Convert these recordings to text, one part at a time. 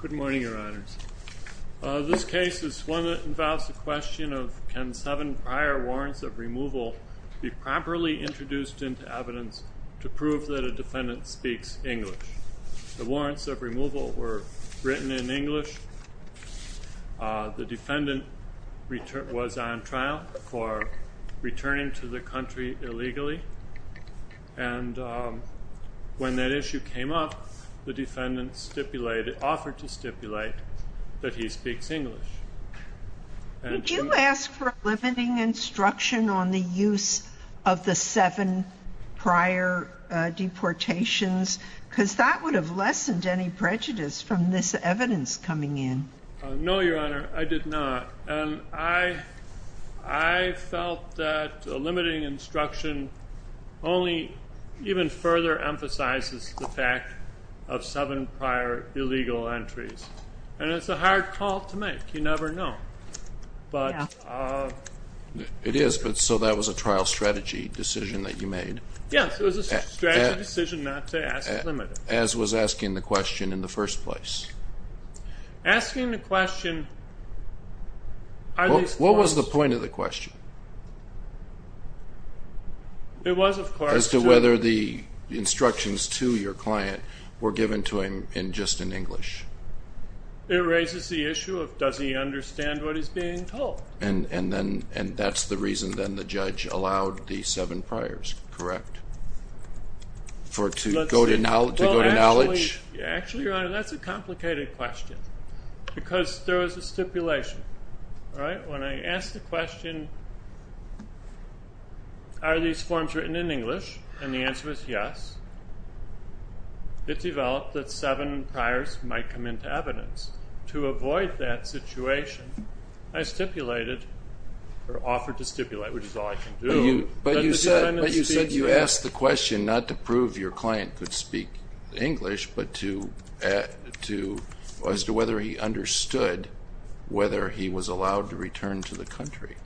Good morning, your honors. This case is one that involves the question of can seven prior warrants of removal be properly introduced into evidence to prove that a defendant speaks English. The warrants of removal were written in English. The defendant returned was on trial for returning to the country illegally. And when that issue came up, the defendant stipulated offered to stipulate that he speaks English. Would you ask for limiting instruction on the use of the seven prior deportations? Because that would have lessened any prejudice from this evidence coming in. No, your honor, I did not. And I felt that limiting instruction only even further emphasizes the fact of seven prior illegal entries. And it's a hard call to make. You never know. It is, but so that was a trial strategy decision that you made. Yes, it was a strategy decision not to ask for limiting. As was asking the question in the first place. Asking the question... What was the point of the question? It was of course... As to whether the instructions to your client were given to him in just in English. It raises the issue of does he understand what he's being told. And that's the reason then the judge allowed the seven priors, correct? To go to knowledge? Actually, your honor, that's a complicated question. Because there was a stipulation. When I asked the question, are these forms written in English? And the answer was yes. It developed that seven priors might come into evidence. To avoid that situation, I stipulated or offered to stipulate, which is all I can do. But you said you asked the question not to prove your client could speak English, but as to whether he understood whether he was allowed to return to the country.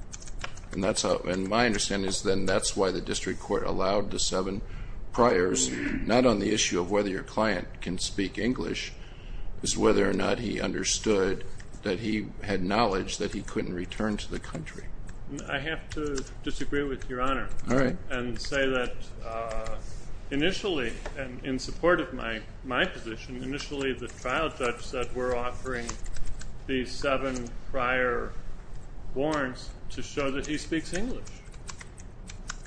And my understanding is then that's why the district court allowed the seven priors, not on the issue of whether your client can speak English, as whether or not he understood that he had knowledge that he couldn't return to the country. I have to disagree with your honor and say that initially, in support of my position, initially the trial judge said we're offering these seven prior warrants to show that he speaks English.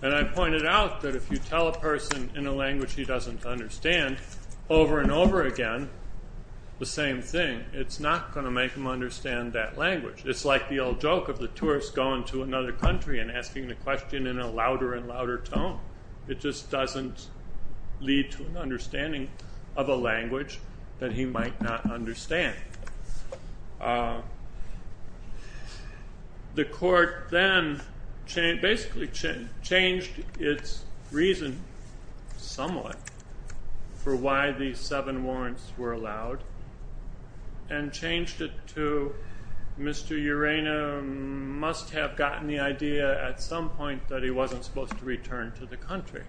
And I pointed out that if you tell a person in a language he doesn't understand over and over again the same thing, it's not going to make him understand that language. It's like the old joke of the tourist going to another country and asking the question in a louder and louder tone. It just doesn't lead to an understanding of a language that he might not understand. The court then basically changed its reason somewhat for why these seven warrants were allowed and changed it to Mr. Urena must have gotten the idea at some point that he wasn't supposed to return to the country.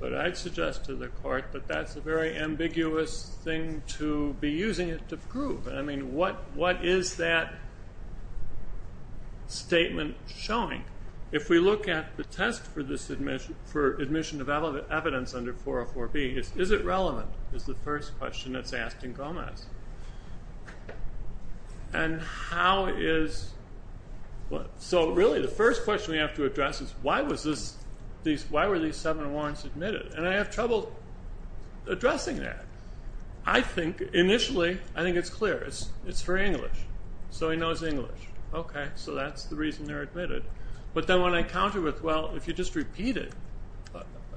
But I'd suggest to the court that that's a very ambiguous thing to be using it to prove. I mean, what is that statement showing? If we look at the test for admission of evidence under 404B, is it relevant? Is the first question that's asked in Gomez. So really the first question we have to address is why were these seven warrants admitted? And I have trouble addressing that. I think initially, I think it's clear. It's for English. So he knows English. Okay. So that's the reason they're admitted. But then when I counter with, well, if you just repeated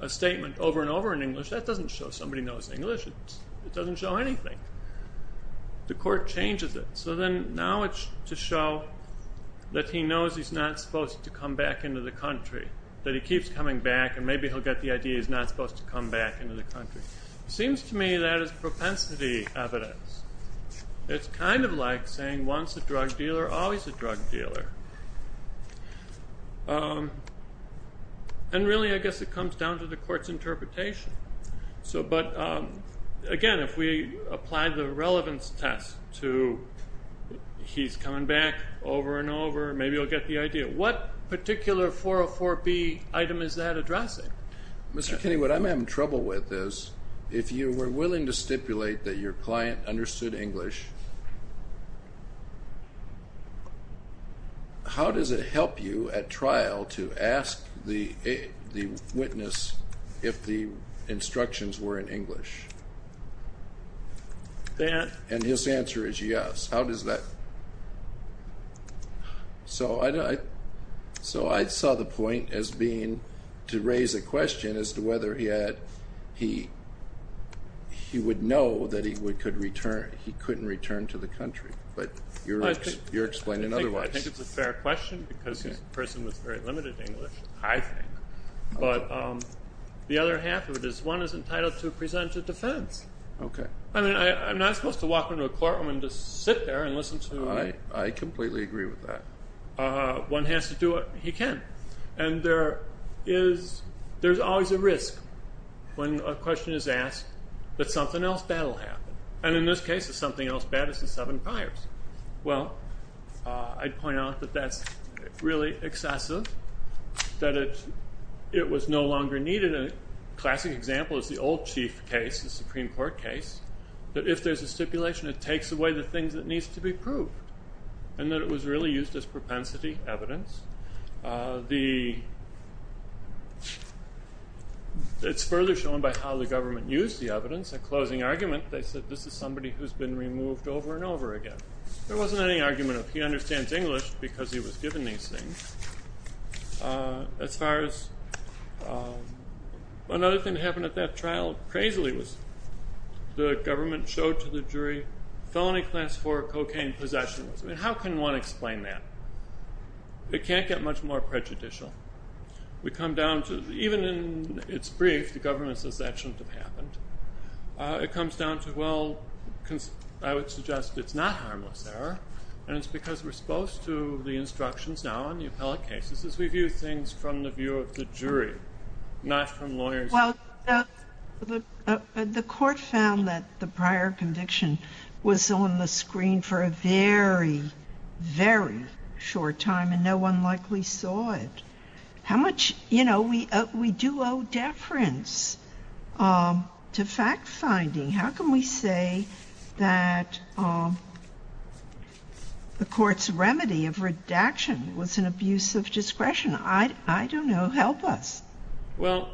a statement over and over in English, that doesn't show somebody knows English. It doesn't show anything. The court changes it. So then now it's to show that he knows he's not supposed to come back into the country, that he keeps coming back and maybe he'll get the idea he's not supposed to come back into the country. Seems to me that is propensity evidence. It's kind of like saying once a drug dealer, always a drug dealer. And really, I guess it comes down to the court's interpretation. But, again, if we apply the relevance test to he's coming back over and over, maybe he'll get the idea. What particular 404B item is that addressing? Mr. Kinney, what I'm having trouble with is if you were willing to stipulate that your client understood English, how does it help you at trial to ask the witness if the instructions were in English? And his answer is yes. How does that? So I saw the point as being to raise a question as to whether he would know that he couldn't return to the country. But you're explaining otherwise. I think it's a fair question because this person was very limited in English, I think. But the other half of it is one is entitled to present a defense. Okay. I mean, I'm not supposed to walk into a courtroom and just sit there and listen to me. I completely agree with that. One has to do what he can. And there is always a risk when a question is asked that something else bad will happen. And in this case, the something else bad is the seven priors. Well, I'd point out that that's really excessive, that it was no longer needed. A classic example is the old chief case, the Supreme Court case, that if there's a stipulation, it takes away the things that needs to be proved, and that it was really used as propensity evidence. It's further shown by how the government used the evidence. A closing argument, they said this is somebody who's been removed over and over again. There wasn't any argument of he understands English because he was given these things. As far as another thing that happened at that trial, crazily, was the government showed to the jury felony class four cocaine possession. I mean, how can one explain that? It can't get much more prejudicial. We come down to, even in its brief, the government says that shouldn't have happened. It comes down to, well, I would suggest it's not harmless error, and it's because we're supposed to, the instructions now on the appellate cases, is we view things from the view of the jury, not from lawyers. Well, the court found that the prior conviction was on the screen for a very, very short time, and no one likely saw it. How much, you know, we do owe deference to fact-finding. How can we say that the court's remedy of redaction was an abuse of discretion? I don't know. Help us. Well,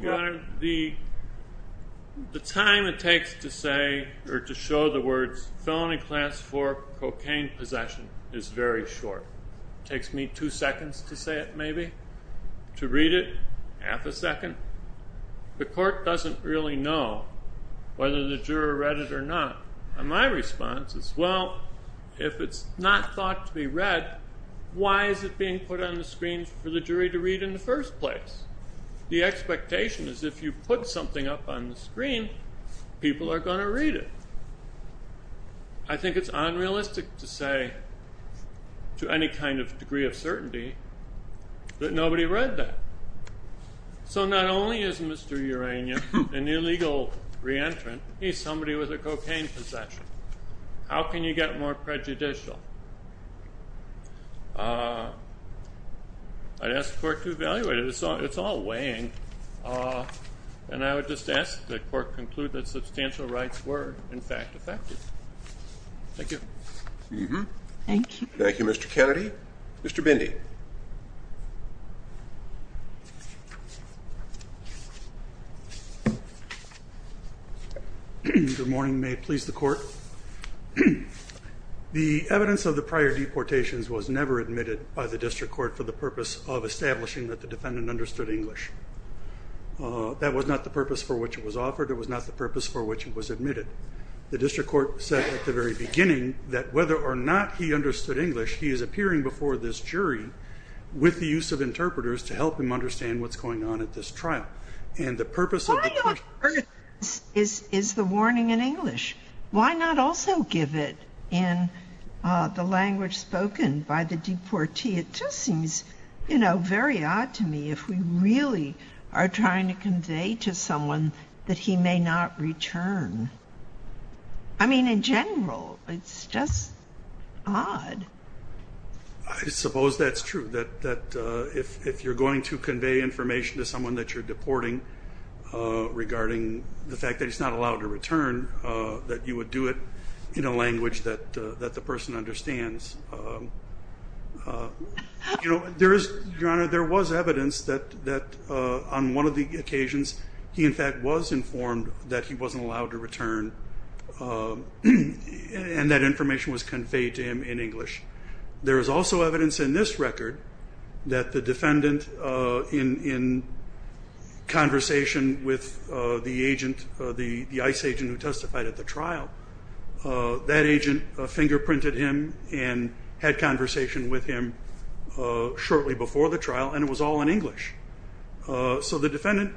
Your Honor, the time it takes to say or to show the words felony class four cocaine possession is very short. It takes me two seconds to say it, maybe, to read it, half a second. The court doesn't really know whether the juror read it or not. And my response is, well, if it's not thought to be read, why is it being put on the screen for the jury to read in the first place? The expectation is if you put something up on the screen, people are going to read it. I think it's unrealistic to say, to any kind of degree of certainty, that nobody read that. So not only is Mr. Urania an illegal re-entrant, he's somebody with a cocaine possession. How can you get more prejudicial? I'd ask the court to evaluate it. It's all weighing. And I would just ask that the court conclude that substantial rights were, in fact, effective. Thank you. Thank you, Mr. Kennedy. Mr. Bindi. Good morning. May it please the court. The evidence of the prior deportations was never admitted by the district court for the purpose of establishing that the defendant understood English. That was not the purpose for which it was offered. It was not the purpose for which it was admitted. The district court said at the very beginning that whether or not he understood English, he is appearing before this jury with the use of interpreters to help him understand what's going on at this trial. And the purpose of the court's argument is the warning in English. Why not also give it in the language spoken by the deportee? It just seems, you know, very odd to me if we really are trying to convey to someone that he may not return. I mean, in general, it's just odd. I suppose that's true, that if you're going to convey information to someone that you're deporting regarding the fact that he's not allowed to return, that you would do it in a language that the person understands. You know, there is, Your Honor, there was evidence that on one of the occasions he, in fact, was informed that he wasn't allowed to return and that information was conveyed to him in English. There is also evidence in this record that the defendant, in conversation with the agent, the ICE agent who testified at the trial, that agent fingerprinted him and had conversation with him shortly before the trial and it was all in English. So the defendant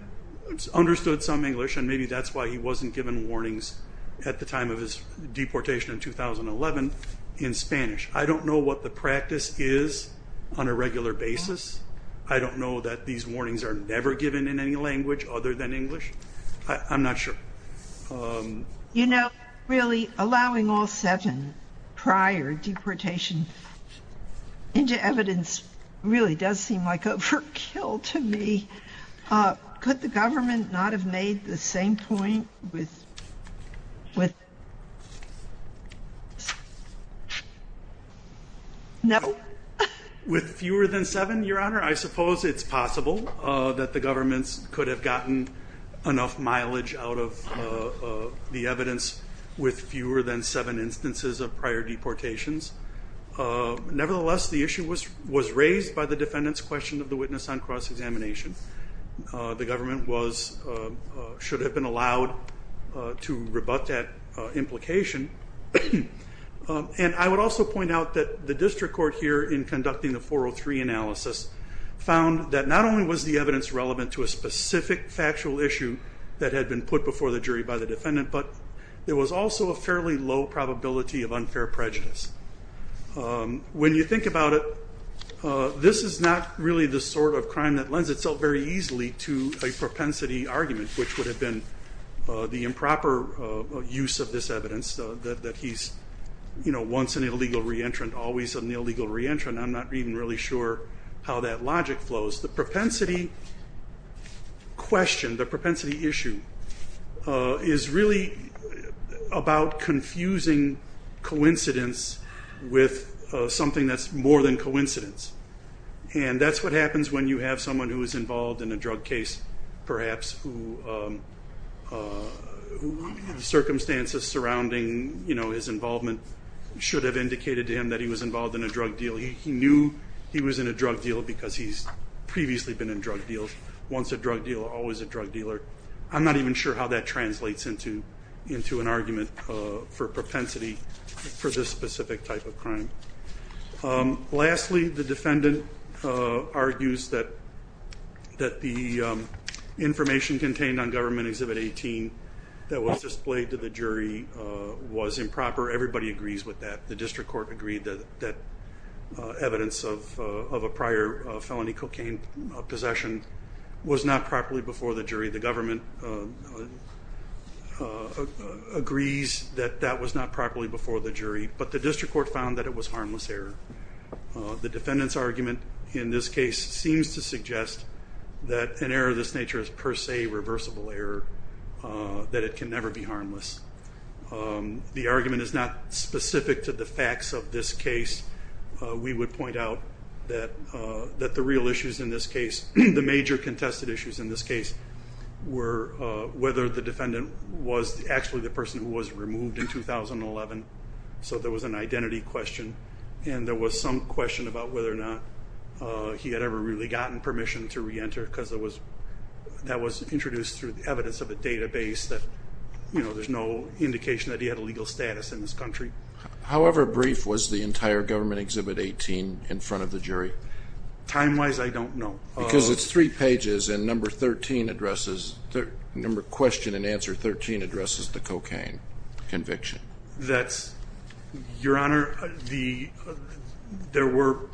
understood some English and maybe that's why he wasn't given warnings at the time of his deportation in 2011 in Spanish. I don't know what the practice is on a regular basis. I don't know that these warnings are never given in any language other than English. I'm not sure. You know, really allowing all seven prior deportation into evidence really does seem like overkill to me. Could the government not have made the same point with fewer than seven, Your Honor? I suppose it's possible that the government could have gotten enough mileage out of the evidence with fewer than seven instances of prior deportations. Nevertheless, the issue was raised by the defendant's question of the witness on cross-examination. The government should have been allowed to rebut that implication. And I would also point out that the district court here, in conducting the 403 analysis, found that not only was the evidence relevant to a specific factual issue that had been put before the jury by the defendant, but there was also a fairly low probability of unfair prejudice. When you think about it, this is not really the sort of crime that lends itself very easily to a propensity argument, which would have been the improper use of this evidence that he's, you know, once an illegal reentrant, always an illegal reentrant. I'm not even really sure how that logic flows. The propensity question, the propensity issue, is really about confusing coincidence with something that's more than coincidence. And that's what happens when you have someone who is involved in a drug case, perhaps, who circumstances surrounding, you know, his involvement should have indicated to him that he was involved in a drug deal. He knew he was in a drug deal because he's previously been in drug deals. Once a drug dealer, always a drug dealer. I'm not even sure how that translates into an argument for propensity for this specific type of crime. Lastly, the defendant argues that the information contained on Government Exhibit 18 that was displayed to the jury was improper. Everybody agrees with that. The district court agreed that evidence of a prior felony cocaine possession was not properly before the jury. The government agrees that that was not properly before the jury, but the district court found that it was harmless error. The defendant's argument in this case seems to suggest that an error of this nature is per se reversible error, that it can never be harmless. The argument is not specific to the facts of this case. We would point out that the real issues in this case, the major contested issues in this case, were whether the defendant was actually the person who was removed in 2011. So there was an identity question and there was some question about whether or not he had ever really gotten permission to reenter because that was introduced through the evidence of a database that there's no indication that he had a legal status in this country. However brief was the entire Government Exhibit 18 in front of the jury? Time-wise, I don't know. Because it's three pages and number 13 addresses, number question and answer 13 addresses the cocaine conviction. That's, Your Honor, there were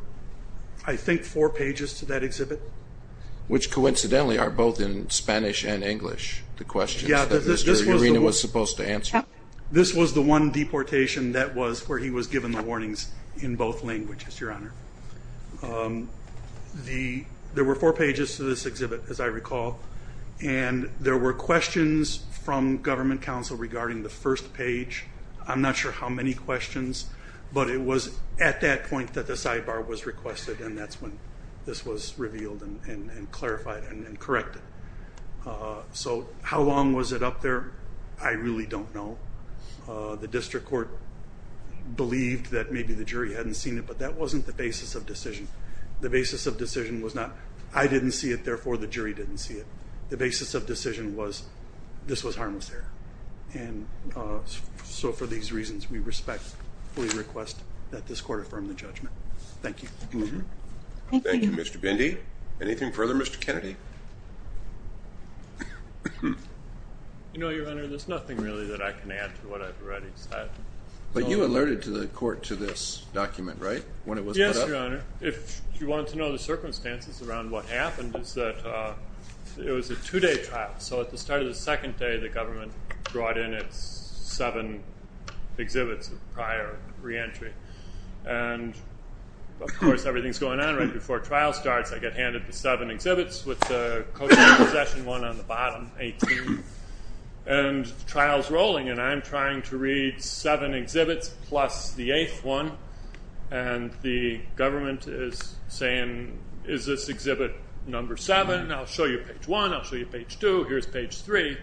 I think four pages to that exhibit. Which coincidentally are both in Spanish and English, the questions that Mr. Urena was supposed to answer. This was the one deportation that was where he was given the warnings in both languages, Your Honor. There were four pages to this exhibit, as I recall, and there were questions from Government Counsel regarding the first page. I'm not sure how many questions, but it was at that point that the sidebar was requested and that's when this was revealed and clarified and corrected. So how long was it up there? I really don't know. The District Court believed that maybe the jury hadn't seen it, but that wasn't the basis of decision. The basis of decision was not, I didn't see it, therefore the jury didn't see it. The basis of decision was this was harmless there. And so for these reasons, we respect, fully request that this Court affirm the judgment. Thank you. Thank you, Mr. Bindi. Anything further, Mr. Kennedy? You know, Your Honor, there's nothing really that I can add to what I've already said. But you alerted the Court to this document, right? Yes, Your Honor. If you want to know the circumstances around what happened is that it was a two-day trial. So at the start of the second day, the Government brought in its seven exhibits of prior reentry. And, of course, everything's going on right before trial starts. I get handed the seven exhibits with the Cochrane Possession one on the bottom, 18. And the trial's rolling and I'm trying to read seven exhibits plus the eighth one. And the Government is saying, is this exhibit number seven? I'll show you page one, I'll show you page two, here's page three.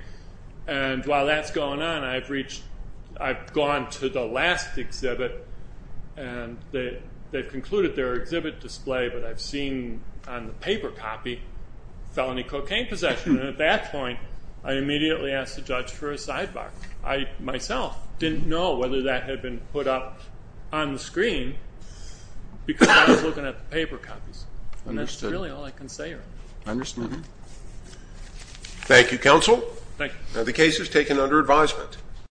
And while that's going on, I've reached, I've gone to the last exhibit. And they've concluded their exhibit display, but I've seen on the paper copy felony cocaine possession. And at that point, I immediately asked the judge for a sidebar. I, myself, didn't know whether that had been put up on the screen because I was looking at the paper copies. And that's really all I can say, Your Honor. Understood. Thank you, Counsel. Thank you. The case is taken under advisement.